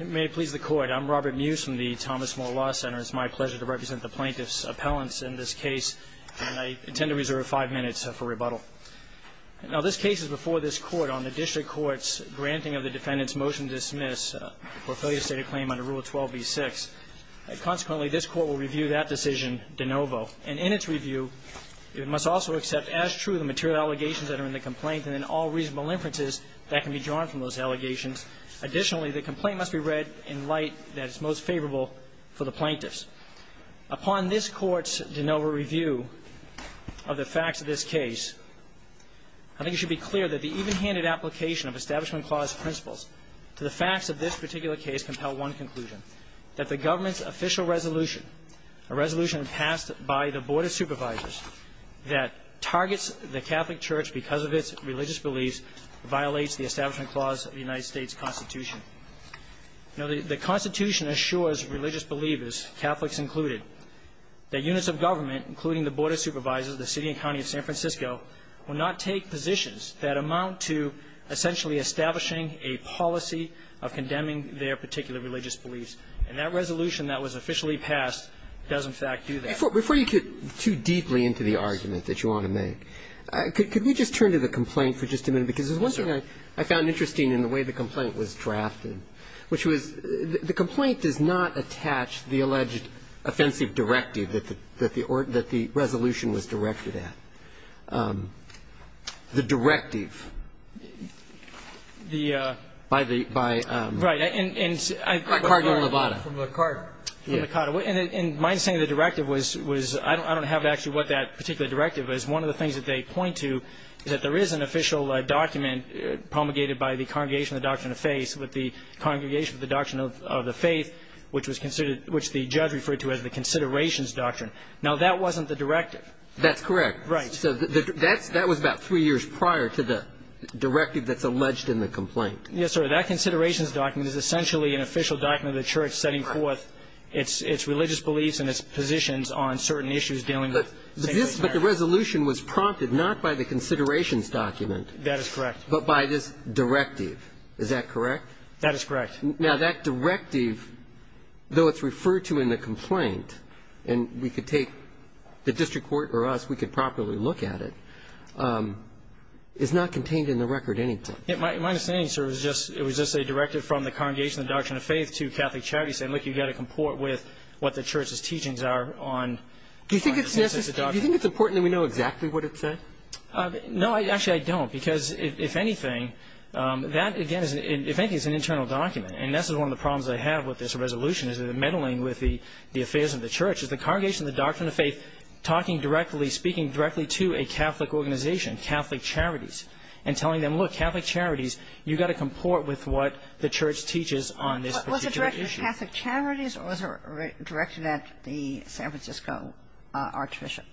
May it please the court. I'm Robert Muse from the Thomas Moore Law Center. It's my pleasure to represent the plaintiffs' appellants in this case. And I intend to reserve five minutes for rebuttal. Now, this case is before this court on the district court's granting of the defendant's motion to dismiss for failure to state a claim under Rule 12b-6. Consequently, this court will review that decision de novo. And in its review, it must also accept as true the material allegations that are in the complaint and then all reasonable inferences that can be drawn from those allegations. Additionally, the complaint must be read in light that it's most favorable for the plaintiffs. Upon this court's de novo review of the facts of this case, I think it should be clear that the even-handed application of Establishment Clause principles to the facts of this particular case compel one conclusion, that the government's official resolution, a resolution passed by the Board of Supervisors that targets the Catholic Church because of its religious beliefs, violates the Establishment Clause of the United States Constitution. Now, the Constitution assures religious believers, Catholics included, that units of government, including the Board of Supervisors, the city and county of San Francisco, will not take positions that amount to essentially establishing a policy of condemning their particular religious beliefs. And that resolution that was officially passed does, in fact, do that. Breyer. Before you get too deeply into the argument that you want to make, could we just turn to the complaint for just a minute? Because there's one thing I found interesting in the way the complaint was drafted, which was the complaint does not attach the alleged offensive directive that the resolution was directed at. The directive by the, by Cardinal Levada. From the card. And my understanding of the directive was, I don't have actually what that particular directive is. One of the things that they point to is that there is an official document promulgated by the Congregation of the Doctrine of Faith with the Congregation of the Doctrine of the Faith, which was considered, which the judge referred to as the Considerations Doctrine. Now, that wasn't the directive. That's correct. Right. So that was about three years prior to the directive that's alleged in the complaint. Yes, sir. So that Considerations Document is essentially an official document of the church setting forth its religious beliefs and its positions on certain issues dealing with the Congregation of the Doctrine of Faith. But the resolution was prompted not by the Considerations Document. That is correct. But by this directive. Is that correct? That is correct. Now, that directive, though it's referred to in the complaint, and we could take the district court or us, we could properly look at it, is not contained in the record anything. My understanding, sir, is just it was just a directive from the Congregation of the Doctrine of Faith to Catholic Charities saying, look, you've got to comport with what the church's teachings are on. Do you think it's necessary? Do you think it's important that we know exactly what it said? No. Actually, I don't. Because if anything, that, again, if anything, is an internal document. And that's one of the problems I have with this resolution is that meddling with the affairs of the church is the Congregation of the Doctrine of Faith talking directly, speaking directly to a Catholic organization, Catholic Charities, and telling them, look, Catholic Charities, you've got to comport with what the church teaches on this particular issue. Was it directed to Catholic Charities or was it directed at the San Francisco archbishop?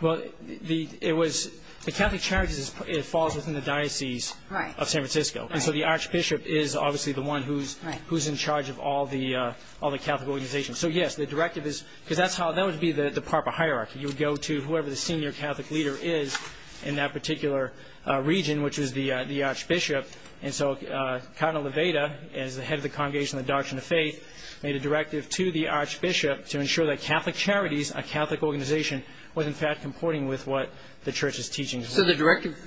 Well, it was the Catholic Charities falls within the diocese of San Francisco. And so the archbishop is obviously the one who's in charge of all the Catholic organizations. So, yes, the directive is because that's how that would be the proper hierarchy. You would go to whoever the senior Catholic leader is in that particular region, which is the archbishop. And so Cardinal Levada is the head of the Congregation of the Doctrine of Faith, made a directive to the archbishop to ensure that Catholic Charities, a Catholic organization, was in fact comporting with what the church is teaching. So the directive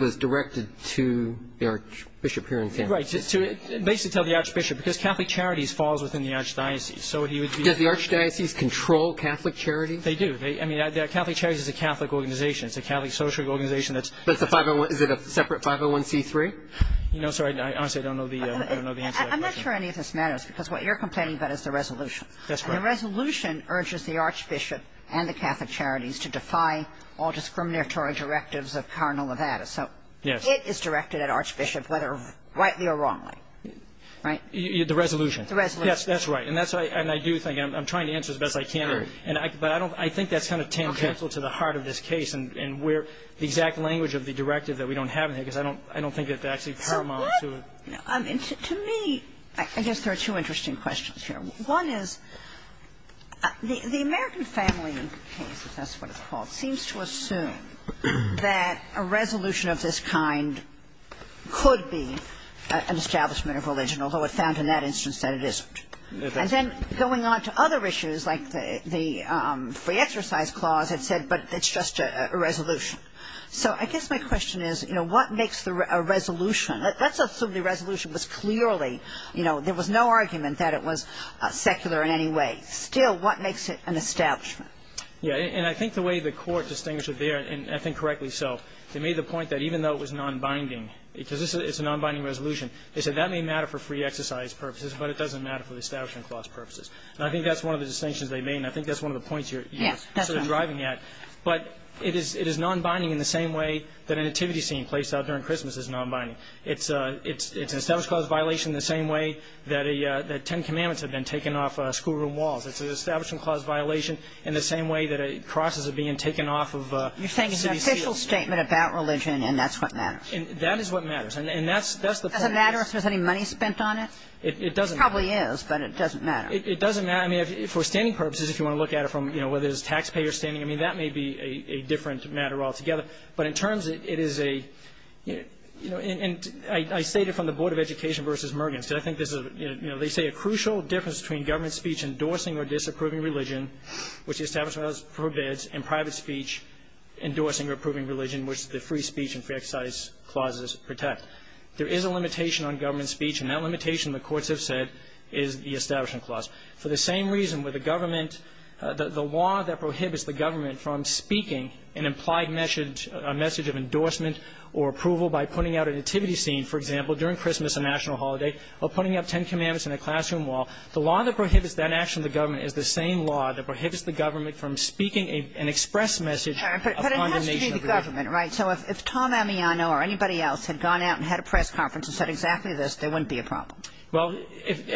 was directed to the archbishop here in San Francisco? Right, basically to the archbishop because Catholic Charities falls within the archdiocese. Does the archdiocese control Catholic Charities? They do. I mean, Catholic Charities is a Catholic organization. It's a Catholic social organization. Is it a separate 501C3? No, sorry. Honestly, I don't know the answer to that question. I'm not sure any of this matters because what you're complaining about is the resolution. That's right. The resolution urges the archbishop and the Catholic Charities to defy all discriminatory directives of Cardinal Levada. So it is directed at archbishop, whether rightly or wrongly, right? The resolution. The resolution. Yes, that's right. And I do think, and I'm trying to answer as best I can. But I think that's kind of tangential to the heart of this case and where the exact language of the directive that we don't have in here because I don't think it actually paramount to it. To me, I guess there are two interesting questions here. One is the American family case, if that's what it's called, seems to assume that in that instance that it isn't. And then going on to other issues like the free exercise clause had said, but it's just a resolution. So I guess my question is, you know, what makes the resolution, let's assume the resolution was clearly, you know, there was no argument that it was secular in any way. Still, what makes it an establishment? Yeah. And I think the way the court distinguished it there, and I think correctly so, they made the point that even though it was nonbinding, because it's a nonbinding resolution, they said that may matter for free exercise purposes, but it doesn't matter for the establishment clause purposes. And I think that's one of the distinctions they made, and I think that's one of the points you're sort of driving at. But it is nonbinding in the same way that a nativity scene placed out during Christmas is nonbinding. It's an establishment clause violation in the same way that ten commandments have been taken off schoolroom walls. It's an establishment clause violation in the same way that a cross is being taken off of city seals. You're saying it's an official statement about religion, and that's what matters. That is what matters. And that's the point. Doesn't matter if there's any money spent on it? It doesn't matter. It probably is, but it doesn't matter. It doesn't matter. I mean, for standing purposes, if you want to look at it from, you know, whether it's taxpayer standing, I mean, that may be a different matter altogether. But in terms, it is a, you know, and I state it from the Board of Education v. Mergen, because I think this is a, you know, they say a crucial difference between government speech endorsing or disapproving religion, which the establishment prohibits, and private speech endorsing or approving religion, which the free speech and fair exercise clauses protect. There is a limitation on government speech, and that limitation, the courts have said, is the establishment clause. For the same reason where the government the law that prohibits the government from speaking an implied message, a message of endorsement or approval by putting out a nativity scene, for example, during Christmas, a national holiday, or putting up Ten Commandments in a classroom wall, the law that prohibits that action of the government is the same law that prohibits the government from speaking an express message of condemnation of religion. Right. So if Tom Ammiano or anybody else had gone out and had a press conference and said exactly this, there wouldn't be a problem. Well,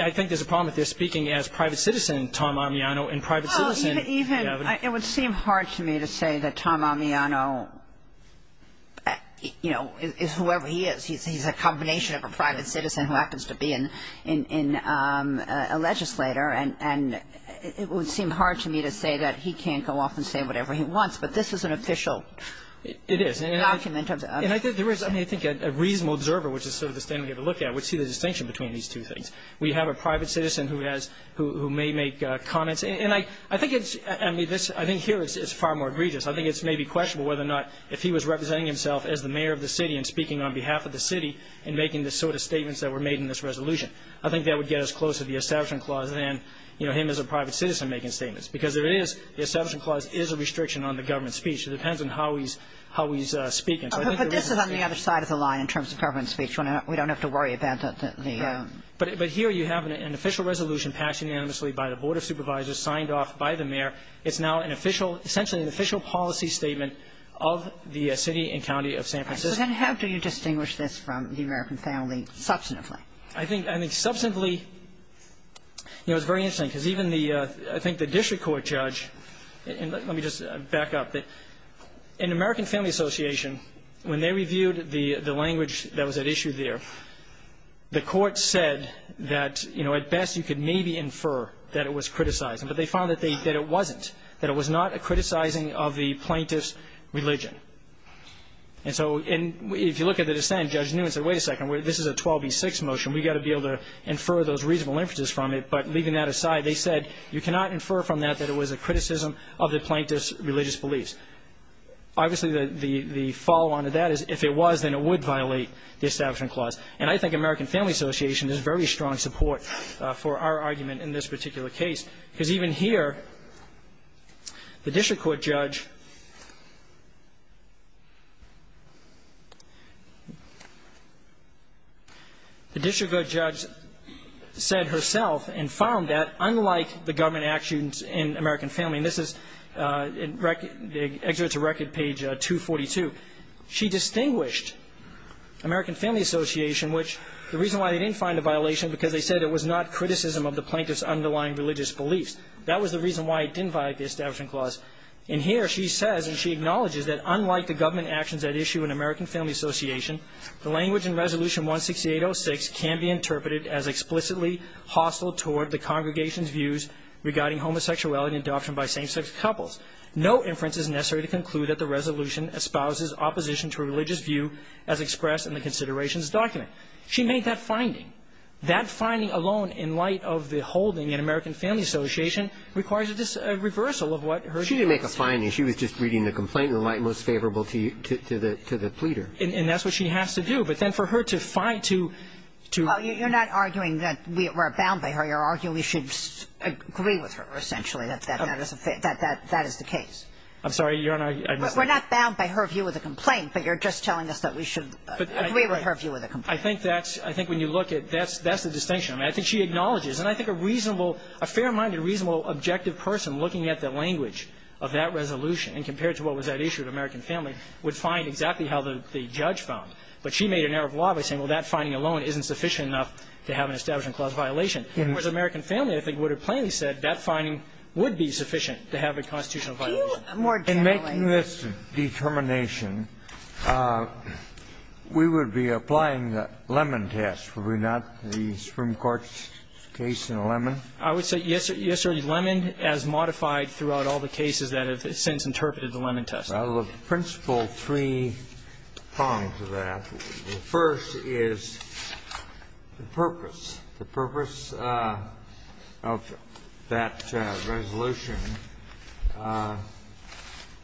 I think there's a problem if they're speaking as private citizen, Tom Ammiano, and private citizen. Well, even, it would seem hard to me to say that Tom Ammiano, you know, is whoever he is. He's a combination of a private citizen who happens to be in a legislator, and it would seem hard to me to say that he can't go off and say whatever he wants. But this is an official document. It is. And I think there is, I mean, I think a reasonable observer, which is sort of the standard we have to look at, would see the distinction between these two things. We have a private citizen who has, who may make comments. And I think it's, I mean, this, I think here it's far more egregious. I think it's maybe questionable whether or not if he was representing himself as the mayor of the city and speaking on behalf of the city and making the sort of statements that were made in this resolution. I think that would get us closer to the Establishment Clause than, you know, him as a private citizen making statements. Because there is, the Establishment Clause is a restriction on the government speech. It depends on how he's, how he's speaking. So I think there is a distinction. But this is on the other side of the line in terms of government speech. We don't have to worry about the ‑‑ Right. But here you have an official resolution passed unanimously by the Board of Supervisors, signed off by the mayor. It's now an official, essentially an official policy statement of the city and county of San Francisco. All right. So then how do you distinguish this from the American family substantively? I think substantively, you know, it's very interesting because even the, I think the district court judge, and let me just back up. An American Family Association, when they reviewed the language that was at issue there, the court said that, you know, at best you could maybe infer that it was criticizing. But they found that it wasn't, that it was not a criticizing of the plaintiff's religion. And so if you look at the dissent, Judge Newman said, wait a second, this is a 12B6 motion. We've got to be able to infer those reasonable inferences from it. But leaving that aside, they said you cannot infer from that that it was a criticism of the plaintiff's religious beliefs. Obviously, the follow‑on to that is if it was, then it would violate the Establishment Clause. And I think American Family Association is very strong support for our argument in this particular case. Because even here, the district court judge, the district court judge said herself and found that, unlike the Government Act students in American Family, and this is, the excerpt to record page 242, she distinguished American Family Association, which the reason why they didn't find a violation, because they said it was not criticism of the plaintiff's underlying religious beliefs. That was the reason why it didn't violate the Establishment Clause. And here she says, and she acknowledges, that unlike the Government actions at issue in American Family Association, the language in Resolution 16806 can be interpreted as explicitly hostile toward the congregation's views regarding homosexuality and adoption by same‑sex couples. No inference is necessary to conclude that the resolution espouses opposition to a religious view as expressed in the considerations document. She made that finding. That finding alone, in light of the holding in American Family Association, requires a reversal of what her view is. She didn't make a finding. She was just reading the complaint in the light most favorable to the pleader. And that's what she has to do. But then for her to find to ‑‑ Well, you're not arguing that we're bound by her. You're arguing we should agree with her, essentially, that that is the case. I'm sorry. You're on our ‑‑ We're not bound by her view of the complaint, but you're just telling us that we should agree with her view of the complaint. I think that's ‑‑ I think when you look at ‑‑ that's the distinction. I mean, I think she acknowledges, and I think a reasonable ‑‑ a fair‑minded, reasonable, objective person looking at the language of that resolution and compared to what was at issue at American Family would find exactly how the judge found. But she made an error of law by saying, well, that finding alone isn't sufficient enough to have an establishment clause violation. Whereas American Family, I think, would have plainly said that finding would be sufficient to have a constitutional violation. In making this determination, we would be applying the Lemon test, would we not, the Supreme Court's case in Lemon? I would say, yes, sir. Yes, sir. Lemon as modified throughout all the cases that have since interpreted the Lemon test. Well, the principle three prongs of that, the first is the purpose. The purpose of that resolution,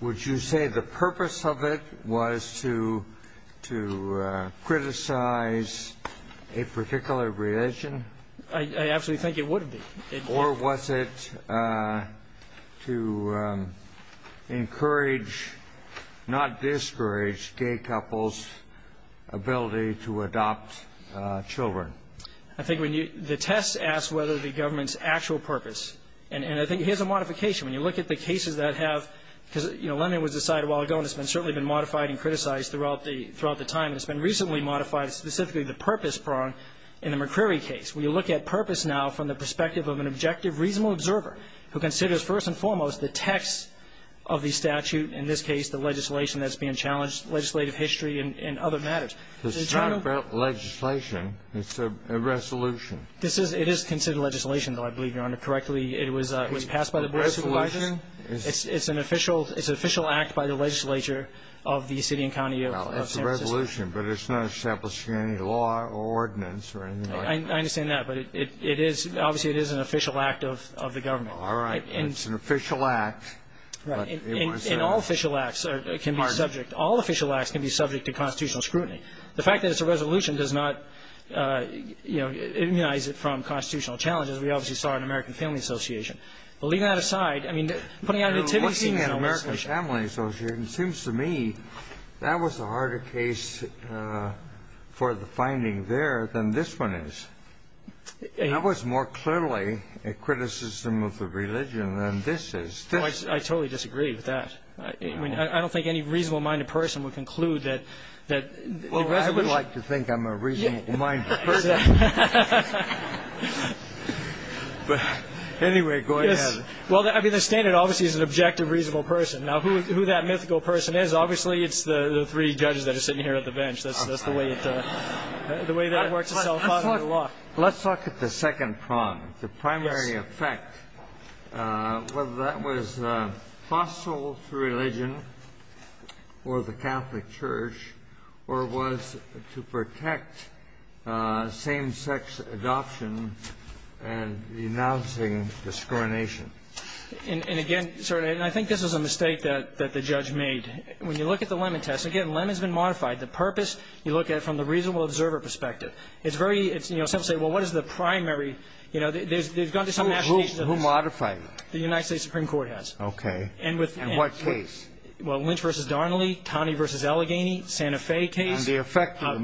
would you say the purpose of it was to criticize a particular religion? I absolutely think it would be. Or was it to encourage, not discourage, gay couples' ability to adopt children? I think the test asks whether the government's actual purpose. And I think here's a modification. When you look at the cases that have, because, you know, Lemon was decided a while ago and it's certainly been modified and criticized throughout the time. And it's been recently modified, specifically the purpose prong in the McCreary case. When you look at purpose now from the perspective of an objective, reasonable observer who considers first and foremost the text of the statute, in this case the legislation that's being challenged, legislative history and other matters. It's not about legislation. It's a resolution. It is considered legislation, though, I believe, Your Honor. Correctly, it was passed by the Board of Supervisors. A resolution? It's an official act by the legislature of the city and county of San Francisco. Well, it's a resolution. But it's not establishing any law or ordinance or anything like that. I understand that. But it is, obviously, it is an official act of the government. All right. It's an official act. Right. And all official acts can be subject. All official acts can be subject to constitutional scrutiny. The fact that it's a resolution does not, you know, immunize it from constitutional challenges. We obviously saw it in the American Family Association. But leaving that aside, I mean, putting out an attempt to see if it's an official act. Looking at the American Family Association, it seems to me that was the harder case for the finding there than this one is. That was more clearly a criticism of the religion than this is. I totally disagree with that. I mean, I don't think any reasonable-minded person would conclude that the resolution Well, I would like to think I'm a reasonable-minded person. But anyway, go ahead. Yes. Well, I mean, the standard obviously is an objective, reasonable person. Now, who that mythical person is, obviously it's the three judges that are sitting here at the bench. That's the way it works itself out in the law. Let's look at the second prong, the primary effect. Whether that was hostile to religion or the Catholic Church or was to protect same-sex adoption and denouncing discrimination. And again, sir, and I think this is a mistake that the judge made. When you look at the Lemon test, again, Lemon's been modified. The purpose, you look at it from the reasonable observer perspective. It's very, you know, some say, well, what is the primary, you know, there's gone Who modified it? The United States Supreme Court has. Okay. In what case? Well, Lynch v. Darnley, Taney v. Allegheny, Santa Fe case. And the effect of the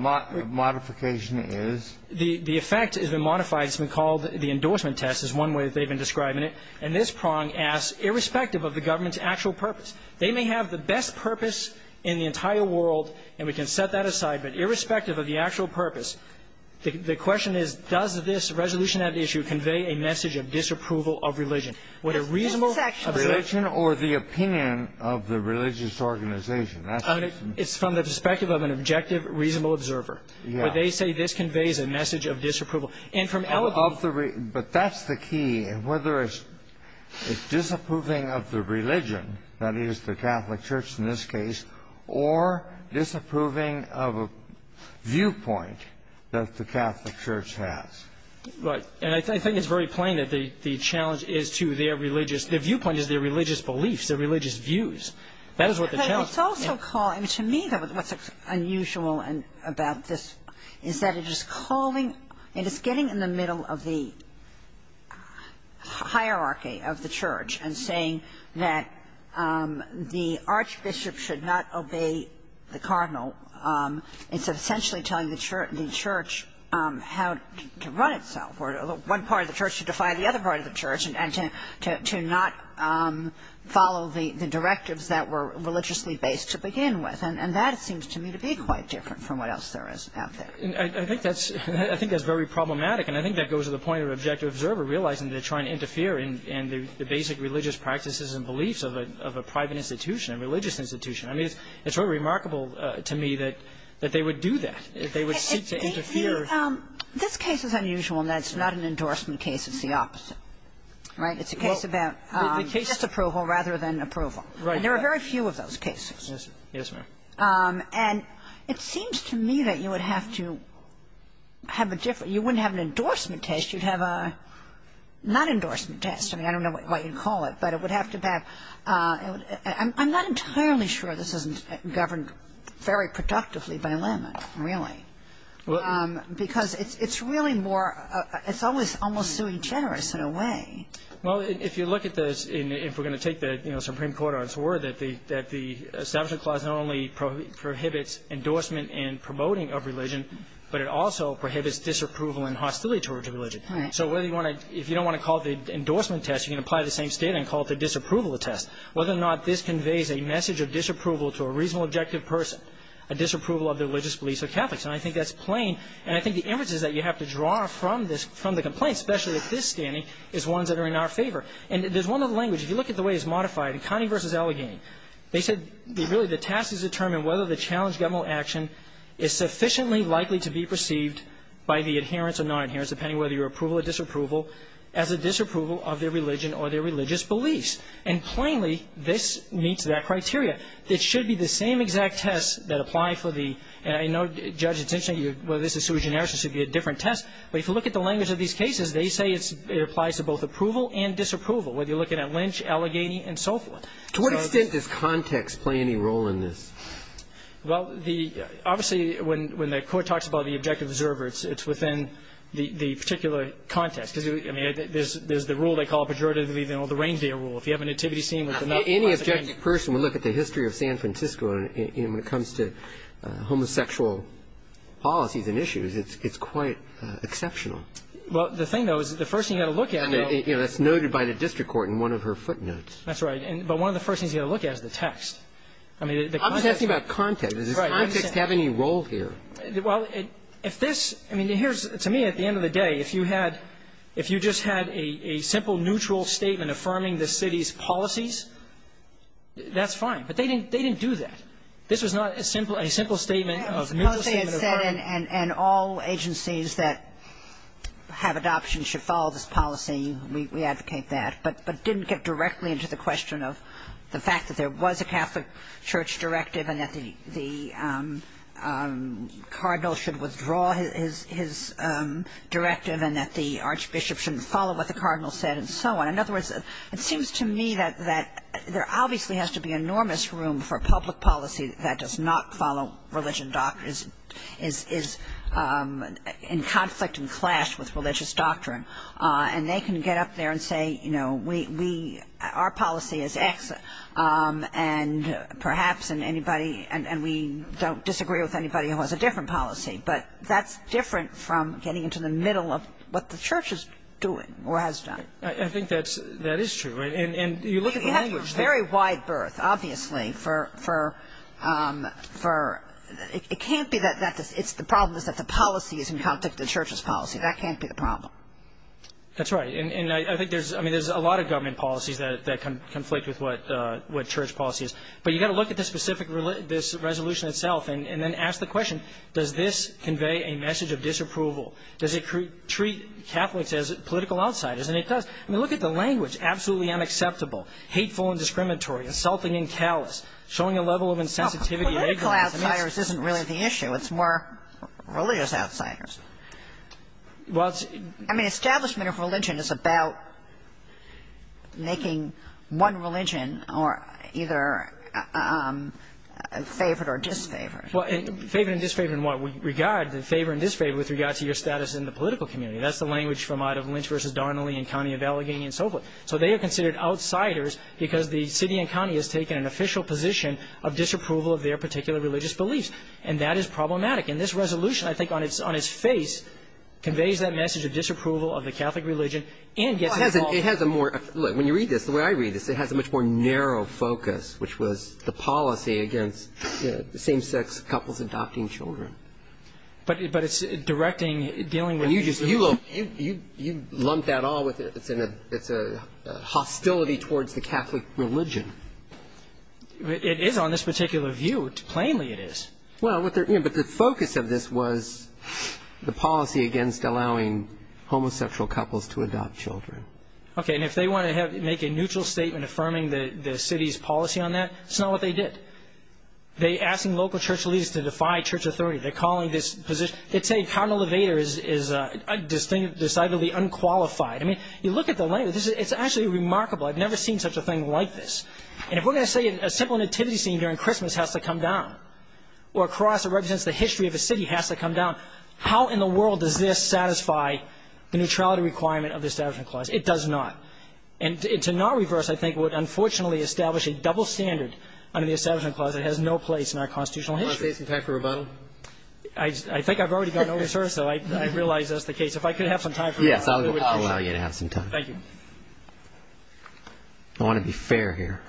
modification is? The effect has been modified. It's been called the endorsement test is one way that they've been describing it. And this prong asks, irrespective of the government's actual purpose, they may have the best purpose in the entire world, and we can set that aside. But irrespective of the actual purpose, the question is, does this resolution in that issue convey a message of disapproval of religion? Would a reasonable observer. Religion or the opinion of the religious organization. It's from the perspective of an objective, reasonable observer. Yeah. Where they say this conveys a message of disapproval. And from Allegheny. But that's the key. Whether it's disapproving of the religion, that is the Catholic Church in this case, or disapproving of a viewpoint that the Catholic Church has. Right. And I think it's very plain that the challenge is to their religious – their viewpoint is their religious beliefs, their religious views. That is what the challenge is. But it's also called – to me, what's unusual about this is that it is calling – it is getting in the middle of the hierarchy of the church and saying that the archbishop should not obey the cardinal. It's essentially telling the church how to run itself, or one part of the church to defy the other part of the church, and to not follow the directives that were religiously based to begin with. And that seems to me to be quite different from what else there is out there. I think that's very problematic. And I think that goes to the point of an objective observer realizing they're trying to interfere in the basic religious practices and beliefs of a private institution, a religious institution. I mean, it's very remarkable to me that they would do that. They would seek to interfere. This case is unusual in that it's not an endorsement case. It's the opposite. Right? It's a case about disapproval rather than approval. Right. And there are very few of those cases. Yes, ma'am. And it seems to me that you would have to have a different – you wouldn't have an endorsement test. You'd have a non-endorsement test. I mean, I don't know what you'd call it, but it would have to have – I'm not entirely sure this isn't governed very productively by limit, really, because it's really more – it's always almost suing generous in a way. Well, if you look at this, if we're going to take the Supreme Court on its word that the Establishment Clause not only prohibits endorsement and promoting of religion, but it also prohibits disapproval and hostility towards religion. Right. So whether you want to – if you don't want to call it the endorsement test, you can apply the same standard and call it the disapproval test. Whether or not this conveys a message of disapproval to a reasonable, objective person, a disapproval of their religious beliefs or Catholics. And I think that's plain. And I think the inferences that you have to draw from this – from the complaint, especially at this standing, is ones that are in our favor. And there's one other language. If you look at the way it's modified, in Connie v. Allegheny, they said really the task is to determine whether the challenged governmental action is sufficiently likely to be perceived by the adherents or non-adherents, depending whether you're approval or disapproval, as a disapproval of their religion or their religious beliefs. And plainly, this meets that criteria. It should be the same exact tests that apply for the – and I know, Judge, it's interesting. Whether this is sui generis or should be a different test, but if you look at the language of these cases, they say it applies to both approval and disapproval, whether you're looking at Lynch, Allegheny, and so forth. To what extent does context play any role in this? Well, the – obviously, when the Court talks about the objective observer, it's within the particular context. Because, I mean, there's the rule they call pejoratively, you know, the reindeer rule. If you have a nativity scene with enough – Any objective person would look at the history of San Francisco, and when it comes to homosexual policies and issues, it's quite exceptional. Well, the thing, though, is the first thing you've got to look at – I mean, you know, that's noted by the district court in one of her footnotes. That's right. But one of the first things you've got to look at is the text. I mean, the context – I'm just asking about context. Right. Does context have any role here? Well, if this – I mean, here's – to me, at the end of the day, if you had – if policies, that's fine. But they didn't – they didn't do that. This was not a simple – a simple statement of neutral statement of her. And all agencies that have adoption should follow this policy. We advocate that. But didn't get directly into the question of the fact that there was a Catholic Church directive and that the cardinal should withdraw his directive and that the archbishop shouldn't follow what the cardinal said and so on. In other words, it seems to me that there obviously has to be enormous room for public policy that does not follow religion doctrines – is in conflict and clash with religious doctrine. And they can get up there and say, you know, we – our policy is X. And perhaps anybody – and we don't disagree with anybody who has a different policy. But that's different from getting into the middle of what the church is doing or has done. Right. I think that's – that is true. And you look at the language there. Well, you have a very wide berth, obviously, for – it can't be that – it's the problem is that the policy is in conflict with the church's policy. That can't be the problem. That's right. And I think there's – I mean, there's a lot of government policies that conflict with what church policy is. But you've got to look at the specific – this resolution itself and then ask the question, does this convey a message of disapproval? Does it treat Catholics as political outsiders? And it does. I mean, look at the language. Absolutely unacceptable. Hateful and discriminatory. Insulting and callous. Showing a level of insensitivity. Political outsiders isn't really the issue. It's more religious outsiders. Well, it's – I mean, establishment of religion is about making one religion or – either favored or disfavored. Well, favored and disfavored in what? We regard the favor and disfavor with regard to your status in the political community. That's the language from Ida Lynch v. Darnley and Connie of Allegheny and so forth. So they are considered outsiders because the city and county has taken an official position of disapproval of their particular religious beliefs. And that is problematic. And this resolution, I think, on its face conveys that message of disapproval of the Catholic religion and gets involved – Well, it has a more – look, when you read this, the way I read this, it has a much more narrow focus, which was the policy against same-sex couples adopting children. But it's directing, dealing with – You lump that all with it. It's a hostility towards the Catholic religion. It is on this particular view. Plainly, it is. Well, but the focus of this was the policy against allowing homosexual couples to adopt children. Okay, and if they want to make a neutral statement affirming the city's policy on that, it's not what they did. They're asking local church leaders to defy church authority. They're calling this position – They're saying Cardinal LeVader is decidedly unqualified. I mean, you look at the language. It's actually remarkable. I've never seen such a thing like this. And if we're going to say a simple nativity scene during Christmas has to come down, or a cross that represents the history of a city has to come down, how in the world does this satisfy the neutrality requirement of the Establishment Clause? It does not. And to not reverse, I think, would unfortunately establish a double standard under the Establishment Clause that has no place in our constitutional history. Do you want to say some time for rebuttal? I think I've already gotten over, sir, so I realize that's the case. If I could have some time for rebuttal. Yes, I'll allow you to have some time. Thank you. I want to be fair here.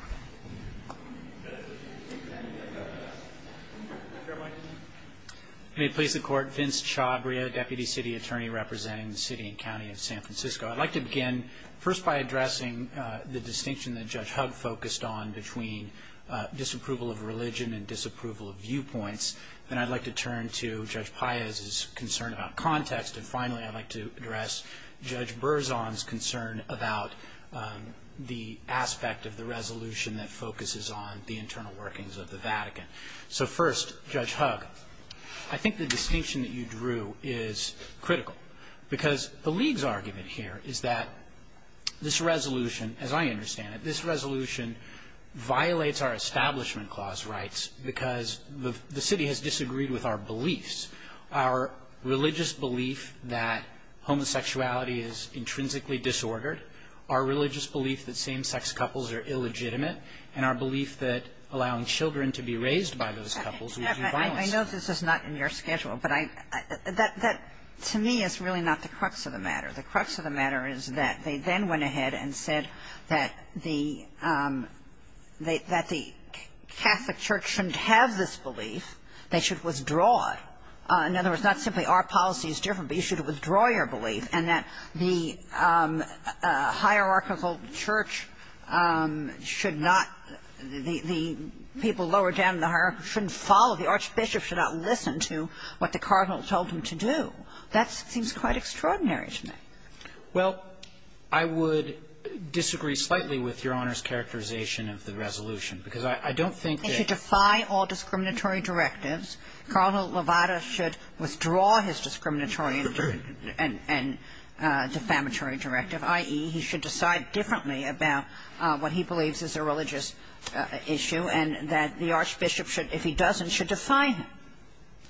May it please the Court. Vince Chabria, Deputy City Attorney representing the City and County of San Francisco. I'd like to begin first by addressing the distinction that Judge Hugg focused on between disapproval of religion and disapproval of viewpoints. Then I'd like to turn to Judge Paez's concern about context. And finally, I'd like to address Judge Berzon's concern about the aspect of the resolution that focuses on the internal workings of the Vatican. So first, Judge Hugg, I think the distinction that you drew is critical, because the league's argument here is that this resolution, as I understand it, this resolution violates our Establishment Clause rights because the city has disagreed with our beliefs. Our religious belief that homosexuality is intrinsically disordered, our religious belief that same-sex couples are illegitimate, and our belief that allowing children to be raised by those couples would be violent. I know this is not in your schedule, but that to me is really not the crux of the matter. The crux of the matter is that they then went ahead and said that the Catholic church shouldn't have this belief. They should withdraw it. In other words, not simply our policy is different, but you should withdraw your belief and that the hierarchical church should not, the people lower down in the hierarchy shouldn't follow, the archbishop should not listen to what the cardinal told him to do. That seems quite extraordinary to me. Well, I would disagree slightly with Your Honor's characterization of the resolution, because I don't think that you should defy all discriminatory directives. Cardinal Levada should withdraw his discriminatory and defamatory directive, i.e., he should decide differently about what he believes is a religious issue, and that the archbishop should, if he doesn't, should defy him.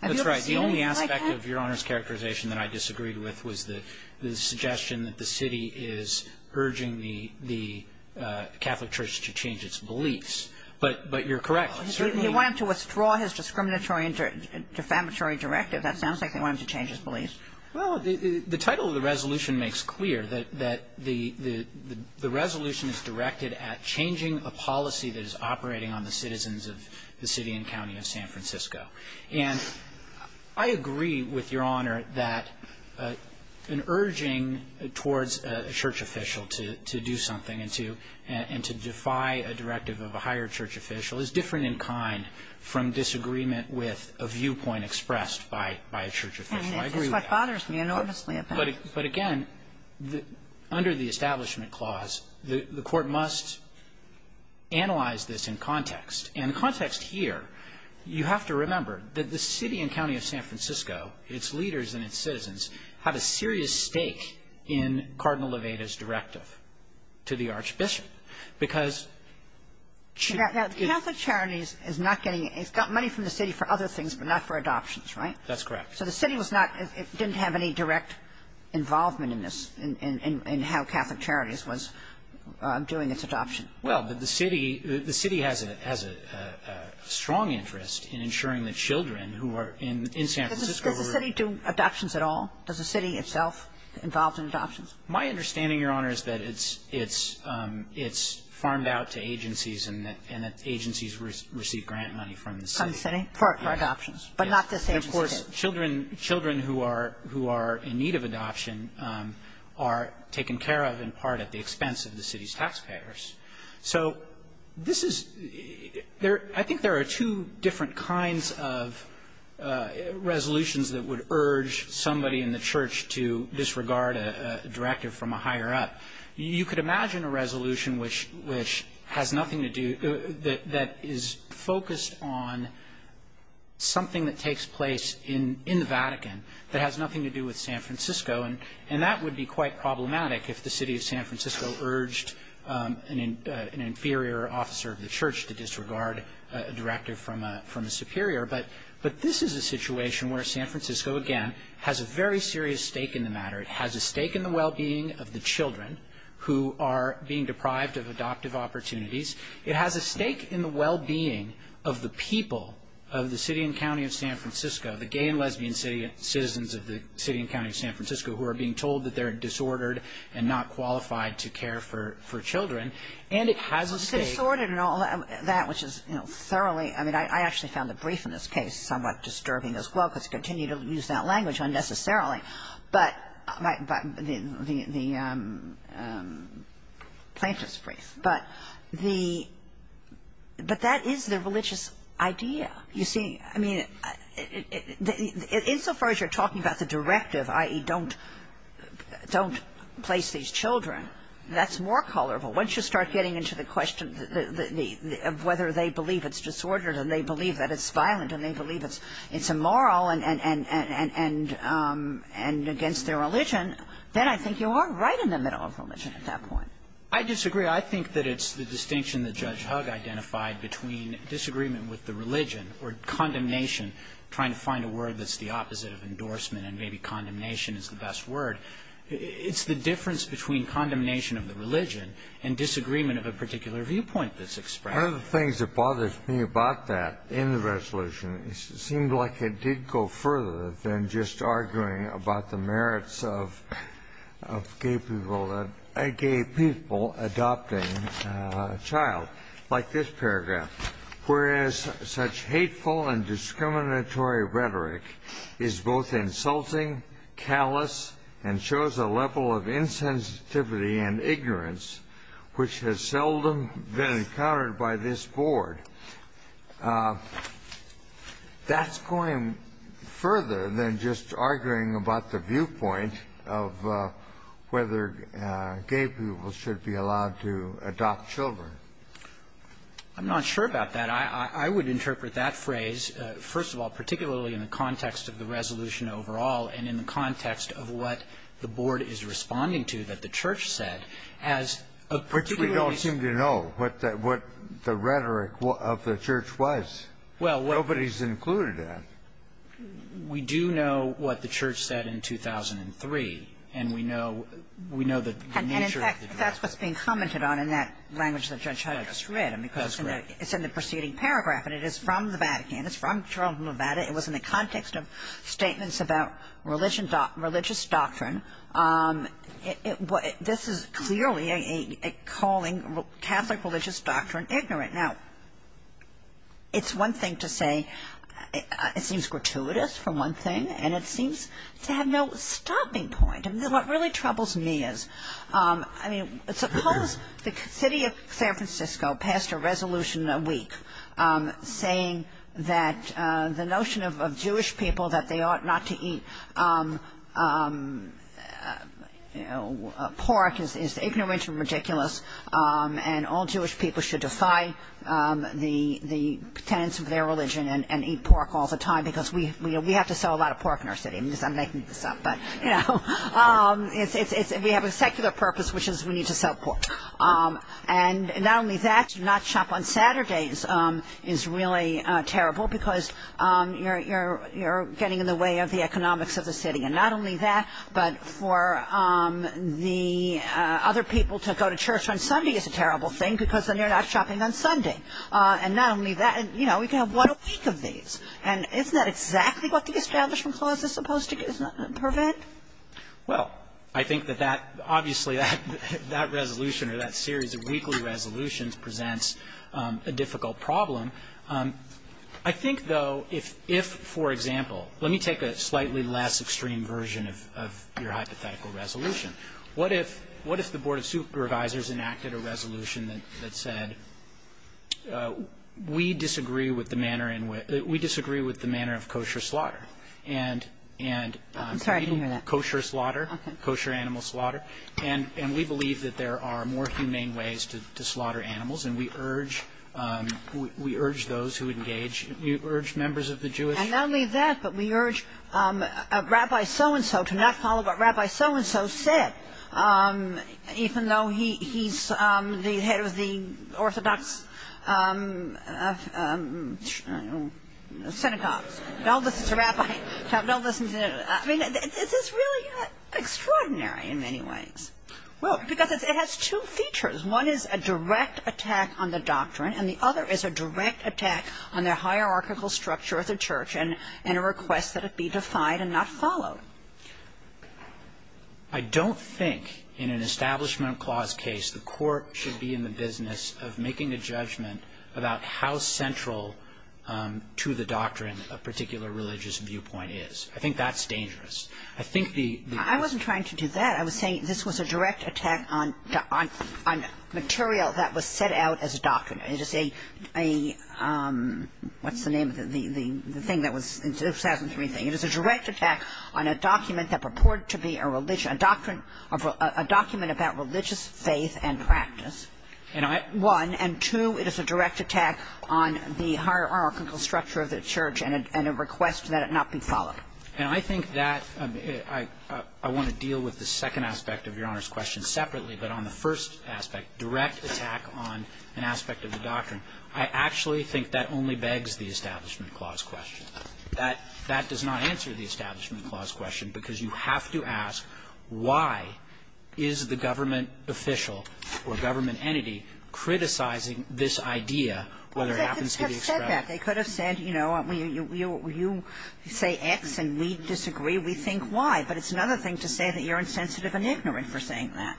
Have you ever seen it like that? The aspect of Your Honor's characterization that I disagreed with was the suggestion that the city is urging the Catholic church to change its beliefs. But you're correct. He wanted to withdraw his discriminatory and defamatory directive. That sounds like they want him to change his beliefs. Well, the title of the resolution makes clear that the resolution is directed at changing a policy that is operating on the citizens of the city and county of San Francisco. And I agree with Your Honor that an urging towards a church official to do something and to defy a directive of a higher church official is different in kind from disagreement with a viewpoint expressed by a church official. I agree with that. And that's what bothers me enormously about it. But, again, under the Establishment Clause, the Court must analyze this in context. And context here, you have to remember that the city and county of San Francisco, its leaders and its citizens, had a serious stake in Cardinal Levada's directive to the archbishop, because... Catholic Charities is not getting it. It's got money from the city for other things, but not for adoptions, right? That's correct. So the city was not, didn't have any direct involvement in this, in how Catholic Charities was doing its adoption. Well, the city has a strong interest in ensuring that children who are in San Francisco were... Does the city do adoptions at all? Does the city itself involved in adoptions? My understanding, Your Honor, is that it's farmed out to agencies and that agencies receive grant money from the city. From the city for adoptions. Yes. But not to say a court did. Children who are in need of adoption are taken care of in part at the expense of the city's taxpayers. So this is, I think there are two different kinds of resolutions that would urge somebody in the church to disregard a directive from a higher up. You could imagine a resolution which has nothing to do, that is focused on something that takes place in the Vatican that has nothing to do with San Francisco. And that would be quite problematic if the city of San Francisco urged an inferior officer of the church to disregard a directive from a superior. But this is a situation where San Francisco, again, has a very serious stake in the matter. It has a stake in the well-being of the children who are being deprived of adoptive opportunities. It has a stake in the well-being of the people of the city and county of San Francisco, the gay and lesbian citizens of the city and county of San Francisco who are being told that they're disordered and not qualified to care for children. And it has a stake. Well, it's disordered and all that, which is, you know, thoroughly. I mean, I actually found the brief in this case somewhat disturbing as well because it continued to use that language unnecessarily. But the plaintiff's brief. But that is the religious idea. You see, I mean, insofar as you're talking about the directive, i.e. don't place these children, that's more colorful. Once you start getting into the question of whether they believe it's disordered and they believe that it's violent and they believe it's immoral and against their religion, then I think you are right in the middle of religion at that point. I disagree. I think that it's the distinction that Judge Hugg identified between disagreement with the religion or condemnation, trying to find a word that's the opposite of endorsement and maybe condemnation is the best word. It's the difference between condemnation of the religion and disagreement of a particular viewpoint that's expressed. One of the things that bothers me about that in the resolution, it seemed like it did go further than just arguing about the merits of gay people adopting a child, like this paragraph, whereas such hateful and discriminatory rhetoric is both insulting, callous, and shows a level of insensitivity and ignorance, which has seldom been encountered by this board. That's going further than just arguing about the viewpoint of whether gay people should be allowed to adopt children. I'm not sure about that. I would interpret that phrase, first of all, particularly in the context of the resolution overall and in the context of what the board is responding to that the church said as a particular Which we don't seem to know what the rhetoric of the church was. Nobody's included that. We do know what the church said in 2003, and we know the nature of the rhetoric. And, in fact, that's what's being commented on in that language that Judge Hyde just read. That's correct. It's in the preceding paragraph, and it is from the Vatican. It's from Toronto, Nevada. It was in the context of statements about religious doctrine. This is clearly calling Catholic religious doctrine ignorant. Now, it's one thing to say it seems gratuitous, for one thing, and it seems to have no stopping point. What really troubles me is, I mean, suppose the city of San Francisco passed a resolution a week saying that the notion of Jewish people that they ought not to eat pork is ignorant and ridiculous and all Jewish people should defy the tenets of their religion and eat pork all the time because we have to sell a lot of pork in our city. I'm making this up, but, you know, we have a secular purpose, which is we need to sell pork. And not only that, to not shop on Saturdays is really terrible because you're getting in the way of the economics of the city. And not only that, but for the other people to go to church on Sunday is a terrible thing because then you're not shopping on Sunday. And not only that, you know, we can have one a week of these. And isn't that exactly what the Establishment Clause is supposed to prevent? Well, I think that that, obviously, that resolution or that series of weekly resolutions presents a difficult problem. I think, though, if, for example, let me take a slightly less extreme version of your hypothetical resolution. What if the Board of Supervisors enacted a resolution that said, We disagree with the manner of kosher slaughter. I'm sorry, I didn't hear that. Kosher slaughter, kosher animal slaughter. And we believe that there are more humane ways to slaughter animals. And we urge those who engage. We urge members of the Jewish community. And not only that, but we urge Rabbi So-and-So to not follow what Rabbi So-and-So said, even though he's the head of the Orthodox synagogues. Don't listen to Rabbi So-and-So. I mean, this is really extraordinary in many ways. Well, because it has two features. One is a direct attack on the doctrine. And the other is a direct attack on the hierarchical structure of the church and a request that it be defied and not followed. I don't think in an Establishment Clause case the court should be in the business of making a judgment about how central to the doctrine a particular religious viewpoint is. I think that's dangerous. I think the ---- I wasn't trying to do that. I was saying this was a direct attack on material that was set out as a doctrine. It is a ---- what's the name of the thing that was ---- it was a direct attack on a document that purported to be a religion, a doctrine of a ---- a document about religious faith and practice. And I ---- One. And two, it is a direct attack on the hierarchical structure of the church and a request that it not be followed. And I think that ---- I want to deal with the second aspect of Your Honor's question separately, but on the first aspect, direct attack on an aspect of the doctrine. I actually think that only begs the Establishment Clause question. That does not answer the Establishment Clause question, because you have to ask why is the government official or government entity criticizing this idea, whether it happens to be expressed ---- Well, they could have said that. They could have said, you know, you say X and we disagree, we think Y. But it's another thing to say that you're insensitive and ignorant for saying that.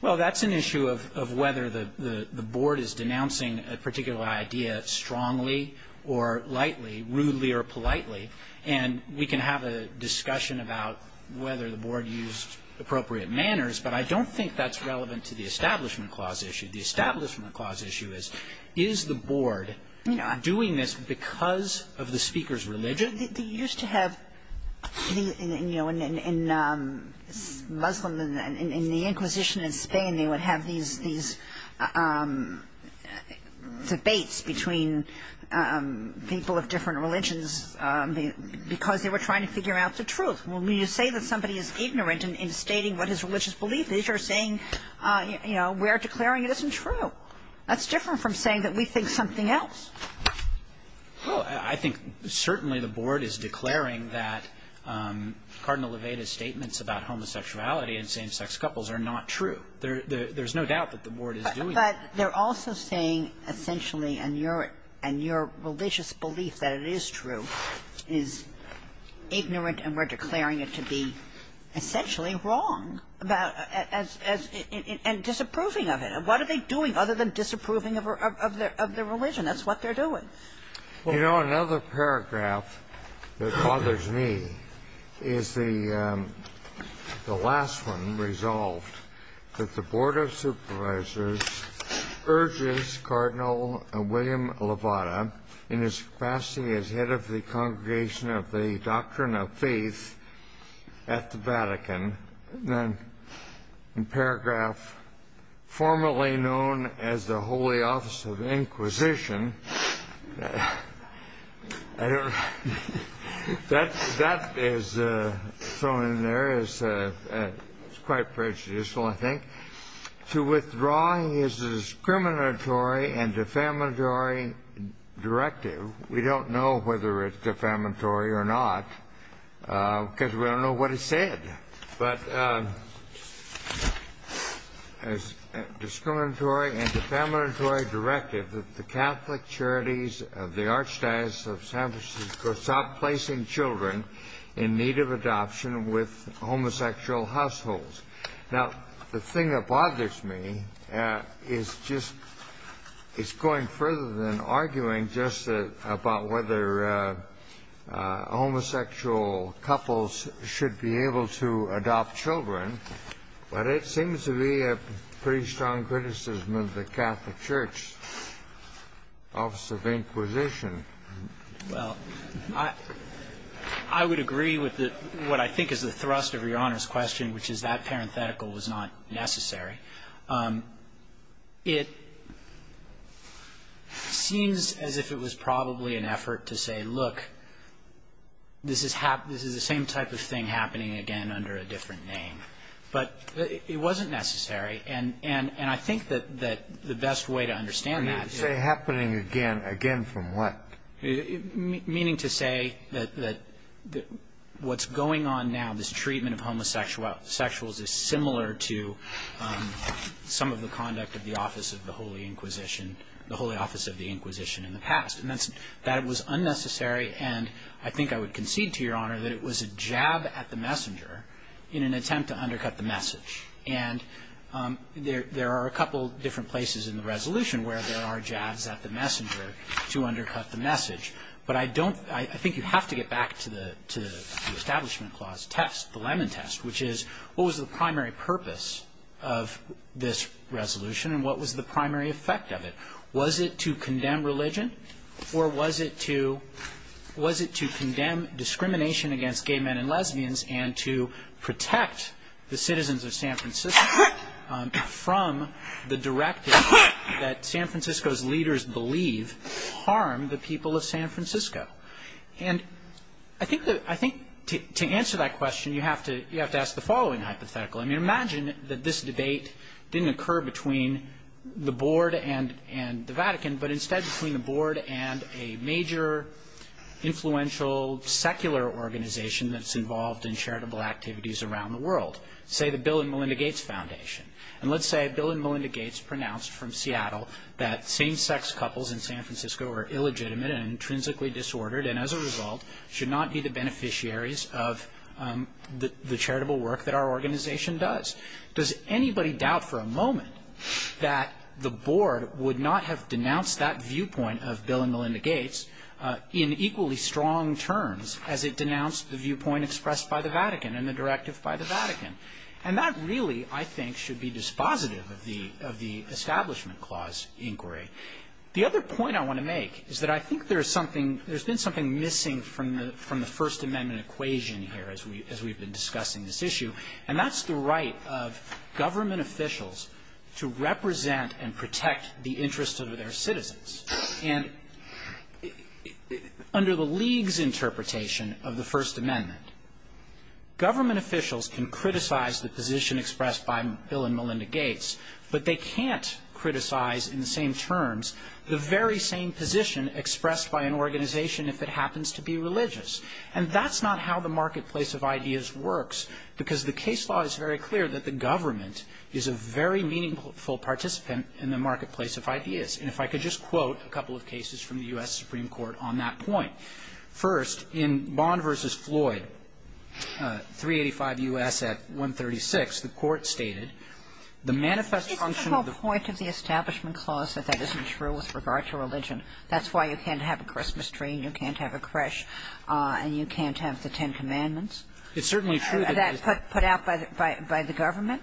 Well, that's an issue of whether the board is denouncing a particular idea strongly or lightly, rudely or politely, and we can have a discussion about whether the board used appropriate manners. But I don't think that's relevant to the Establishment Clause issue. The Establishment Clause issue is, is the board doing this because of the Speaker's religion? Well, they used to have, you know, in Muslim, in the Inquisition in Spain, they would have these debates between people of different religions because they were trying to figure out the truth. When you say that somebody is ignorant in stating what his religious belief is, you're saying, you know, we are declaring it isn't true. That's different from saying that we think something else. Well, I think certainly the board is declaring that Cardinal Levada's statements about homosexuality and same-sex couples are not true. There's no doubt that the board is doing that. But they're also saying essentially, and your religious belief that it is true is ignorant and we're declaring it to be essentially wrong, and disapproving of it. And what are they doing other than disapproving of their religion? That's what they're doing. Well, you know, another paragraph that bothers me is the last one resolved, that the Board of Supervisors urges Cardinal William Levada in his capacity as head of the Congregation of the Doctrine of Faith at the Vatican, then in paragraph formerly known as the Holy Office of Inquisition, that is thrown in there as quite prejudicial, I think, to withdraw his discriminatory and defamatory directive. We don't know whether it's defamatory or not because we don't know what it said. But as discriminatory and defamatory directive, that the Catholic Charities of the Archdiocese of San Francisco stop placing children in need of adoption with homosexual households. Now, the thing that bothers me is just it's going further than arguing just about whether homosexual couples should be able to adopt children. But it seems to be a pretty strong criticism of the Catholic Church Office of Inquisition. Well, I would agree with what I think is the thrust of Your Honor's question, which is that parenthetical was not necessary. It seems as if it was probably an effort to say, look, this is the same type of thing happening again under a different name. But it wasn't necessary. And I think that the best way to understand that is to say happening again. Again from what? Meaning to say that what's going on now, this treatment of homosexuals is similar to some of the conduct of the Office of the Holy Inquisition, the Holy Office of the Inquisition in the past. And that was unnecessary. And I think I would concede to Your Honor that it was a jab at the messenger in an attempt to undercut the message. And there are a couple different places in the resolution I think you have to get back to the Establishment Clause test, the Lemon Test, which is what was the primary purpose of this resolution and what was the primary effect of it? Was it to condemn religion? Or was it to condemn discrimination against gay men and lesbians and to protect the citizens of San Francisco from the directive that San Francisco's leaders believe harm the people of San Francisco? And I think to answer that question you have to ask the following hypothetical. I mean imagine that this debate didn't occur between the Board and the Vatican, but instead between the Board and a major influential secular organization that's involved in charitable activities around the world, say the Bill and Melinda Gates Foundation. And let's say Bill and Melinda Gates pronounced from Seattle that same-sex couples in San Francisco are illegitimate and intrinsically disordered and as a result should not be the beneficiaries of the charitable work that our organization does. Does anybody doubt for a moment that the Board would not have denounced that viewpoint of Bill and Melinda Gates in equally strong terms as it denounced the viewpoint expressed by the Vatican and the directive by the Vatican? And that really, I think, should be dispositive of the Establishment Clause inquiry. The other point I want to make is that I think there's something – there's been something missing from the First Amendment equation here as we've been discussing this issue, and that's the right of government officials to represent and protect the interests of their citizens. And under the League's interpretation of the First Amendment, government officials can criticize the position expressed by Bill and Melinda Gates, but they can't criticize in the same terms the very same position expressed by an organization if it happens to be religious. And that's not how the marketplace of ideas works because the case law is very clear that the government is a very meaningful participant in the marketplace of ideas. And if I could just quote a couple of cases from the U.S. Supreme Court on that point. First, in Bond v. Floyd, 385 U.S. at 136, the Court stated, the manifest function of the – Isn't the whole point of the Establishment Clause that that isn't true with regard to religion? That's why you can't have a Christmas tree and you can't have a creche and you can't have the Ten Commandments? It's certainly true that – Is that put out by the government?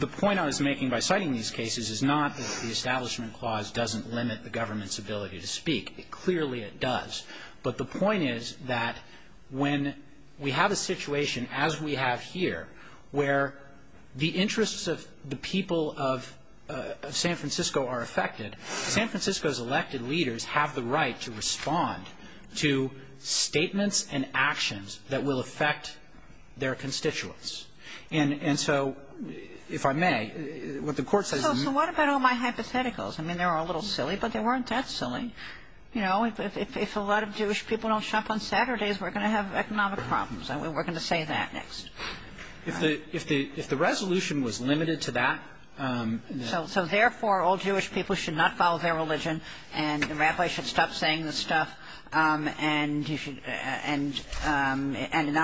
The point I was making by citing these cases is not that the Establishment Clause doesn't limit the government's ability to speak. Clearly, it does. But the point is that when we have a situation, as we have here, where the interests of the people of San Francisco are affected, San Francisco's elected leaders have the right to respond to statements and actions that will affect their constituents. And so, if I may, what the Court says is – So what about all my hypotheticals? I mean, they were a little silly, but they weren't that silly. You know, if a lot of Jewish people don't shop on Saturdays, we're going to have economic problems, and we're going to say that next. If the resolution was limited to that – So, therefore, all Jewish people should not follow their religion, and the rabbis should stop saying this stuff, and not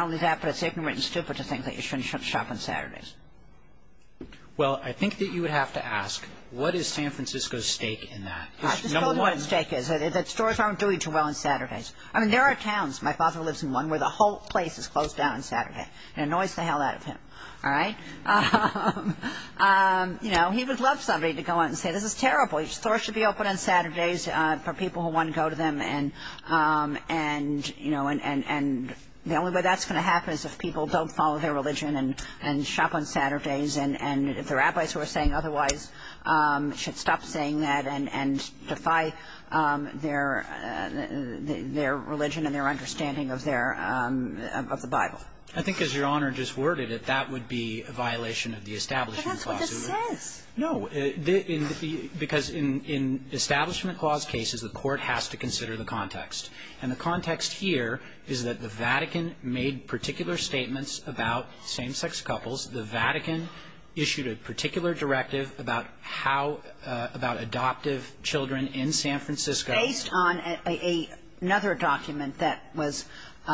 only that, but it's ignorant and stupid to think that you shouldn't shop on Saturdays. Well, I think that you would have to ask, what is San Francisco's stake in that? I just told him what his stake is, that stores aren't doing too well on Saturdays. I mean, there are towns – my father lives in one – where the whole place is closed down on Saturday. It annoys the hell out of him. All right? You know, he would love somebody to go out and say, this is terrible. Stores should be open on Saturdays for people who want to go to them. And the only way that's going to happen is if people don't follow their religion and shop on Saturdays, and if the rabbis who are saying otherwise should stop saying that and defy their religion and their understanding of their – of the Bible. I think, as Your Honor just worded it, that would be a violation of the Establishment Clause. But that's what this says. No. Because in Establishment Clause cases, the court has to consider the context. And the context here is that the Vatican made particular statements about same-sex couples. The Vatican issued a particular directive about how – about adoptive children in San Francisco. Based on another document that was –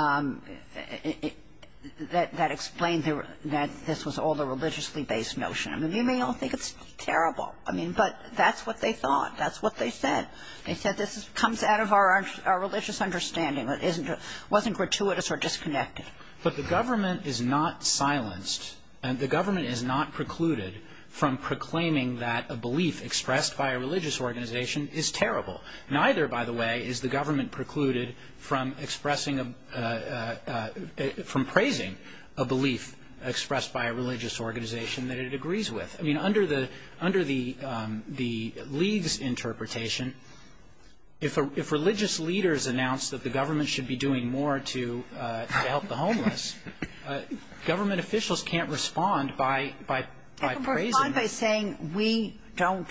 that explained that this was all the religiously-based notion. I mean, you may all think it's terrible. I mean, but that's what they thought. That's what they said. They said this comes out of our religious understanding. It wasn't gratuitous or disconnected. But the government is not silenced and the government is not precluded from proclaiming that a belief expressed by a religious organization is terrible. Neither, by the way, is the government precluded from expressing a – from praising a belief expressed by a religious organization that it agrees with. I mean, under the – under the League's interpretation, if religious leaders announce that the government should be doing more to help the homeless, government officials can't respond by praising it. They can respond by saying we don't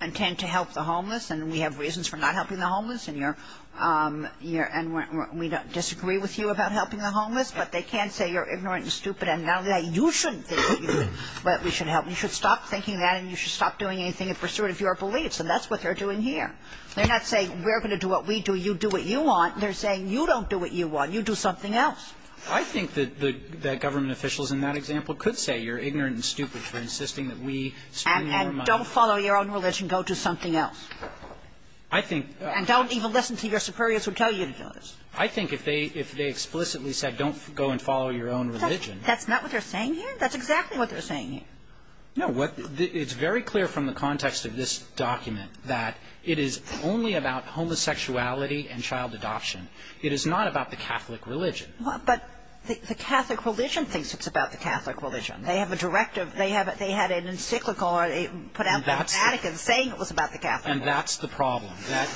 intend to help the homeless and we have reasons for not helping the homeless and you're – and we disagree with you about helping the homeless, but they can't say you're ignorant and stupid and not only that, you shouldn't think that we should help. You should stop thinking that and you should stop doing anything in pursuit of your beliefs. And that's what they're doing here. They're not saying we're going to do what we do. You do what you want. They're saying you don't do what you want. You do something else. I think that the government officials in that example could say you're ignorant and stupid for insisting that we spend more money. And don't follow your own religion. Go do something else. I think – And don't even listen to your superiors who tell you to do this. I think if they – if they explicitly said don't go and follow your own religion That's not what they're saying here. That's exactly what they're saying here. No, what – it's very clear from the context of this document that it is only about homosexuality and child adoption. It is not about the Catholic religion. But the Catholic religion thinks it's about the Catholic religion. They have a directive. They have – they had an encyclical or they put out the Vatican saying it was about the Catholic religion. And that's the problem.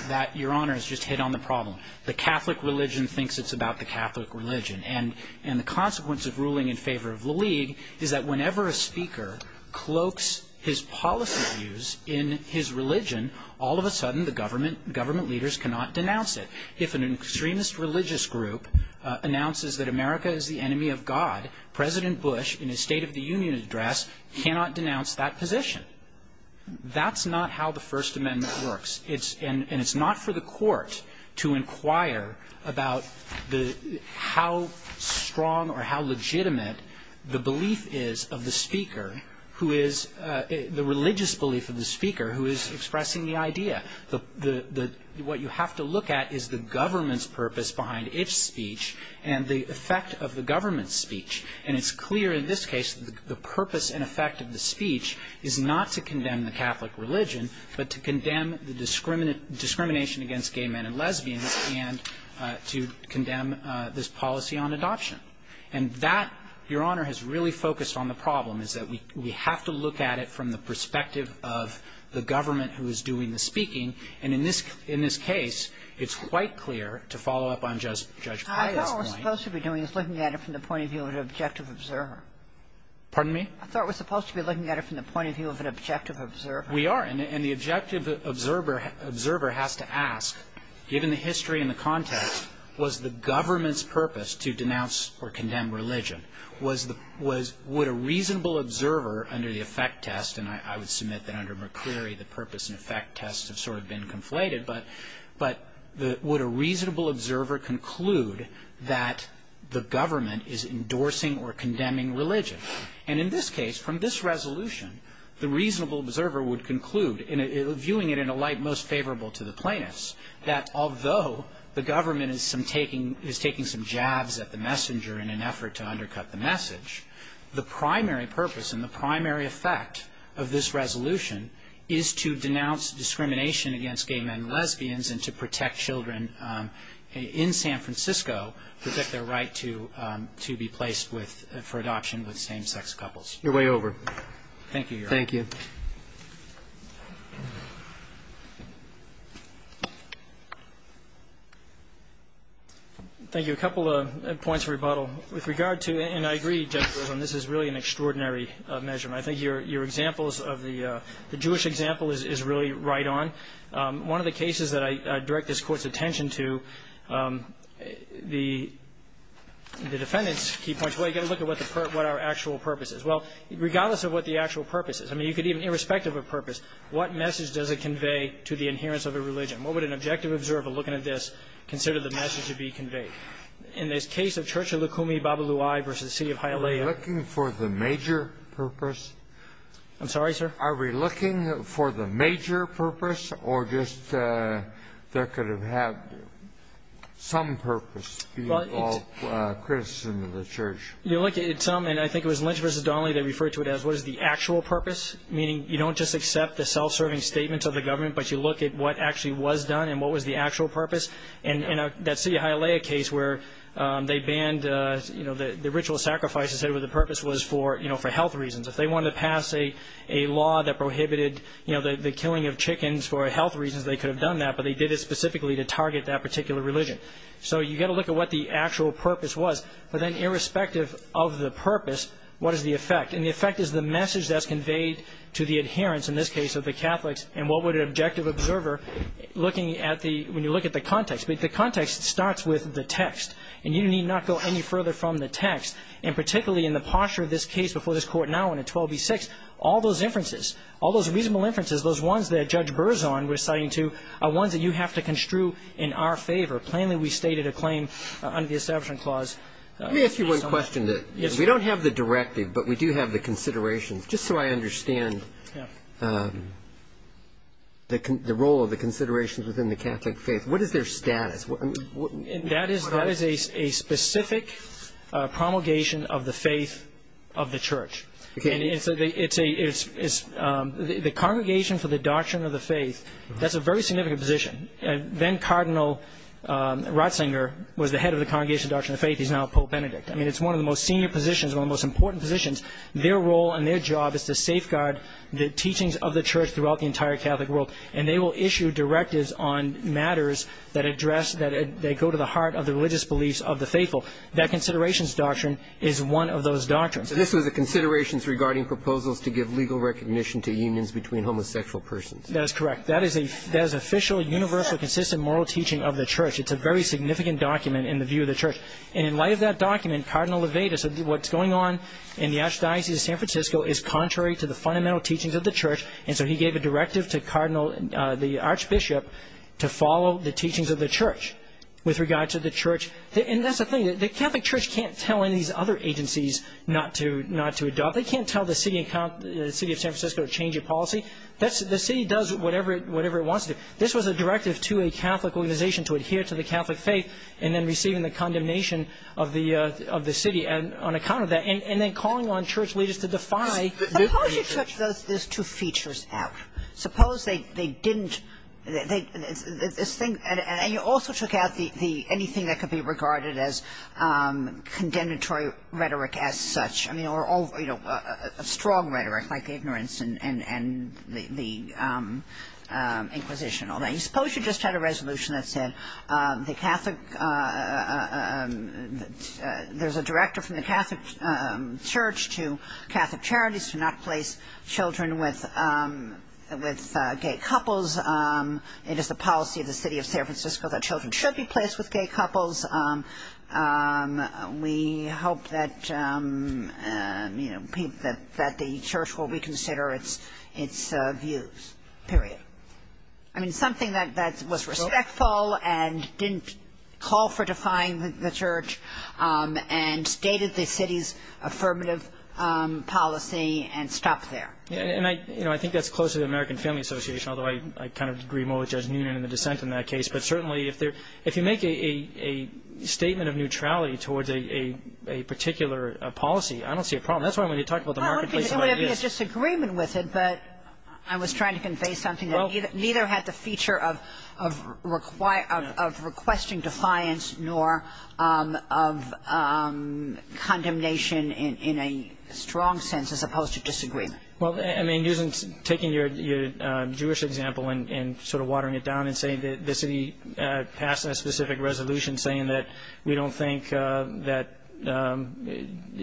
That, Your Honor, has just hit on the problem. The Catholic religion thinks it's about the Catholic religion. And the consequence of ruling in favor of La Ligue is that whenever a speaker cloaks his policy views in his religion, all of a sudden the government leaders cannot denounce it. If an extremist religious group announces that America is the enemy of God, President Bush, in his State of the Union address, cannot denounce that position. That's not how the First Amendment works. And it's not for the court to inquire about how strong or how legitimate the belief is of the speaker who is – the religious belief of the speaker who is expressing the idea. What you have to look at is the government's purpose behind its speech and the effect of the government's speech. And it's clear in this case the purpose and effect of the speech is not to condemn the Catholic religion but to condemn the discrimination against gay men and lesbians and to condemn this policy on adoption. And that, Your Honor, has really focused on the problem, is that we have to look at it from the perspective of the government who is doing the speaking. And in this case, it's quite clear, to follow up on Judge Pyle's point – I thought what we're supposed to be doing is looking at it from the point of view of an objective observer. Pardon me? I thought we're supposed to be looking at it from the point of view of an objective observer. We are. And the objective observer has to ask, given the history and the context, was the government's purpose to denounce or condemn religion? Would a reasonable observer under the effect test – and I would submit that under McCreary the purpose and effect tests have sort of been conflated – but would a reasonable observer conclude that the government is endorsing or condemning religion? And in this case, from this resolution, the reasonable observer would conclude, viewing it in a light most favorable to the plaintiffs, that although the government is taking some jabs at the messenger in an effort to undercut the message, the primary purpose and the primary effect of this resolution is to denounce discrimination against gay men and lesbians and to protect children in San Francisco, protect their right to be placed for adoption with same-sex couples. You're way over. Thank you, Your Honor. Thank you. Thank you. A couple of points of rebuttal. With regard to – and I agree, Justice Rosen, this is really an extraordinary measurement. I think your examples of the Jewish example is really right on. One of the cases that I direct this Court's attention to, the defendant's key point is, well, you've got to look at what the – what our actual purpose is. Well, regardless of what the actual purpose is, I mean, you could even – irrespective of purpose, what message does it convey to the adherence of a religion? What would an objective observer, looking at this, consider the message to be conveyed? In this case of Church of Lukumi-Babalui v. City of Hialeah – Are we looking for the major purpose? I'm sorry, sir? Are we looking for the major purpose, or just there could have had some purpose, being all criticism of the church? You look at some – and I think it was Lynch v. Donnelly, they referred to it as, what is the actual purpose? Meaning, you don't just accept the self-serving statements of the government, but you look at what actually was done and what was the actual purpose. And that City of Hialeah case where they banned – you know, the ritual sacrifice instead of what the purpose was for, you know, for health reasons. If they wanted to pass a law that prohibited, you know, the killing of chickens for health reasons, they could have done that, but they did it specifically to target that particular religion. So you've got to look at what the actual purpose was. But then irrespective of the purpose, what is the effect? And the effect is the message that's conveyed to the adherence, in this case, of the Catholics, and what would an objective observer, looking at the – when you look at the context. But the context starts with the text, and you need not go any further from the text, and particularly in the posture of this case before this Court now in 12b-6, all those inferences, all those reasonable inferences, those ones that Judge Berzon was citing too, are ones that you have to construe in our favor. Plainly we stated a claim under the Establishment Clause. Let me ask you one question. Yes, sir. We don't have the directive, but we do have the considerations. Just so I understand the role of the considerations within the Catholic faith. What is their status? That is a specific promulgation of the faith of the Church. The Congregation for the Doctrine of the Faith, that's a very significant position. Then-Cardinal Ratzinger was the head of the Congregation for the Doctrine of the Faith. He's now Pope Benedict. I mean, it's one of the most senior positions, one of the most important positions. Their role and their job is to safeguard the teachings of the Church throughout the entire Catholic world, and they will issue directives on matters that address, that go to the heart of the religious beliefs of the faithful. That considerations doctrine is one of those doctrines. So this was the considerations regarding proposals to give legal recognition to unions between homosexual persons. That is correct. That is an official, universal, consistent moral teaching of the Church. It's a very significant document in the view of the Church. And in light of that document, Cardinal Levada said what's going on in the Archdiocese of San Francisco is contrary to the fundamental teachings of the Church, and so he gave a directive to Cardinal, the Archbishop, to follow the teachings of the Church with regard to the Church. And that's the thing. The Catholic Church can't tell any of these other agencies not to adopt. They can't tell the city of San Francisco to change a policy. The city does whatever it wants to do. This was a directive to a Catholic organization to adhere to the Catholic faith and then receiving the condemnation of the city on account of that, and then calling on Church leaders to defy the Church. But you took those two features out. Suppose they didn't – this thing – and you also took out anything that could be regarded as condemnatory rhetoric as such, I mean, or a strong rhetoric like ignorance and the Inquisition. Suppose you just had a resolution that said the Catholic – there's a directive from the Catholic Church to Catholic charities to not place children with gay couples. It is the policy of the city of San Francisco that children should be placed with gay couples. We hope that the Church will reconsider its views, period. I mean, something that was respectful and didn't call for defying the Church and stated the city's affirmative policy and stopped there. And I think that's close to the American Family Association, although I kind of agree more with Judge Noonan in the dissent in that case. But certainly if you make a statement of neutrality towards a particular policy, I don't see a problem. That's why when you talk about the marketplace of ideas – Well, it would be a disagreement with it, but I was trying to convey something that neither had the feature of requesting defiance nor of condemnation in a strong sense as opposed to disagreement. Well, I mean, taking your Jewish example and sort of watering it down and saying that the city passed a specific resolution saying that we don't think that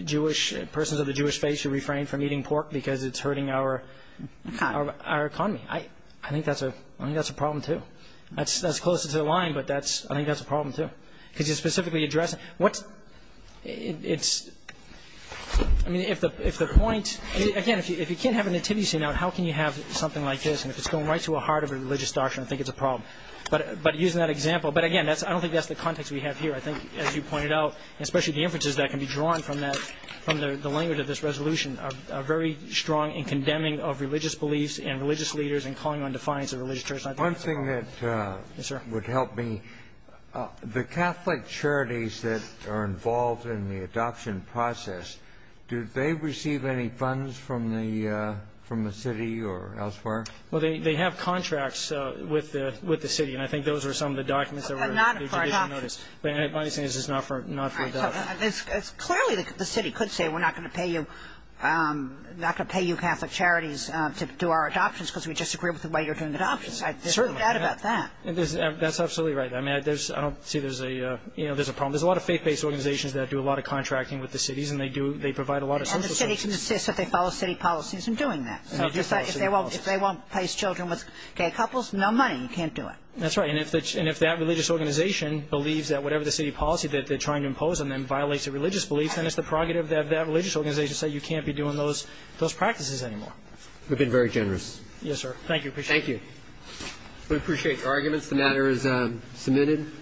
Jewish – persons of the Jewish faith should refrain from eating pork because it's hurting our economy. I think that's a problem, too. That's closer to the line, but I think that's a problem, too. Because you specifically address – I mean, if the point – again, if you can't have a nativity scene out, how can you have something like this? And if it's going right to the heart of a religious doctrine, I think it's a problem. But using that example – but again, I don't think that's the context we have here. I think, as you pointed out, especially the inferences that can be drawn from that – from the language of this resolution, a very strong condemning of religious beliefs and religious leaders and calling on defiance of the religious Church. One thing that would help me – the Catholic charities that are involved in the adoption process, do they receive any funds from the city or elsewhere? Well, they have contracts with the city, and I think those are some of the documents that were in the judicial notice. Not a part of it. My understanding is it's not for adoption. Clearly, the city could say we're not going to pay you – not going to pay you Catholic charities to do our adoptions because we disagree with the way you're doing adoptions. There's no doubt about that. That's absolutely right. I don't see there's a problem. There's a lot of faith-based organizations that do a lot of contracting with the cities, and they provide a lot of social services. And the city can insist that they follow city policies in doing that. If they won't place children with gay couples, no money. You can't do it. That's right. And if that religious organization believes that whatever the city policy that they're trying to impose and then violates a religious belief, then it's the prerogative of that religious organization to say you can't be doing those practices anymore. We've been very generous. Yes, sir. Thank you. Appreciate it. Thank you. We appreciate your arguments. The matter is submitted.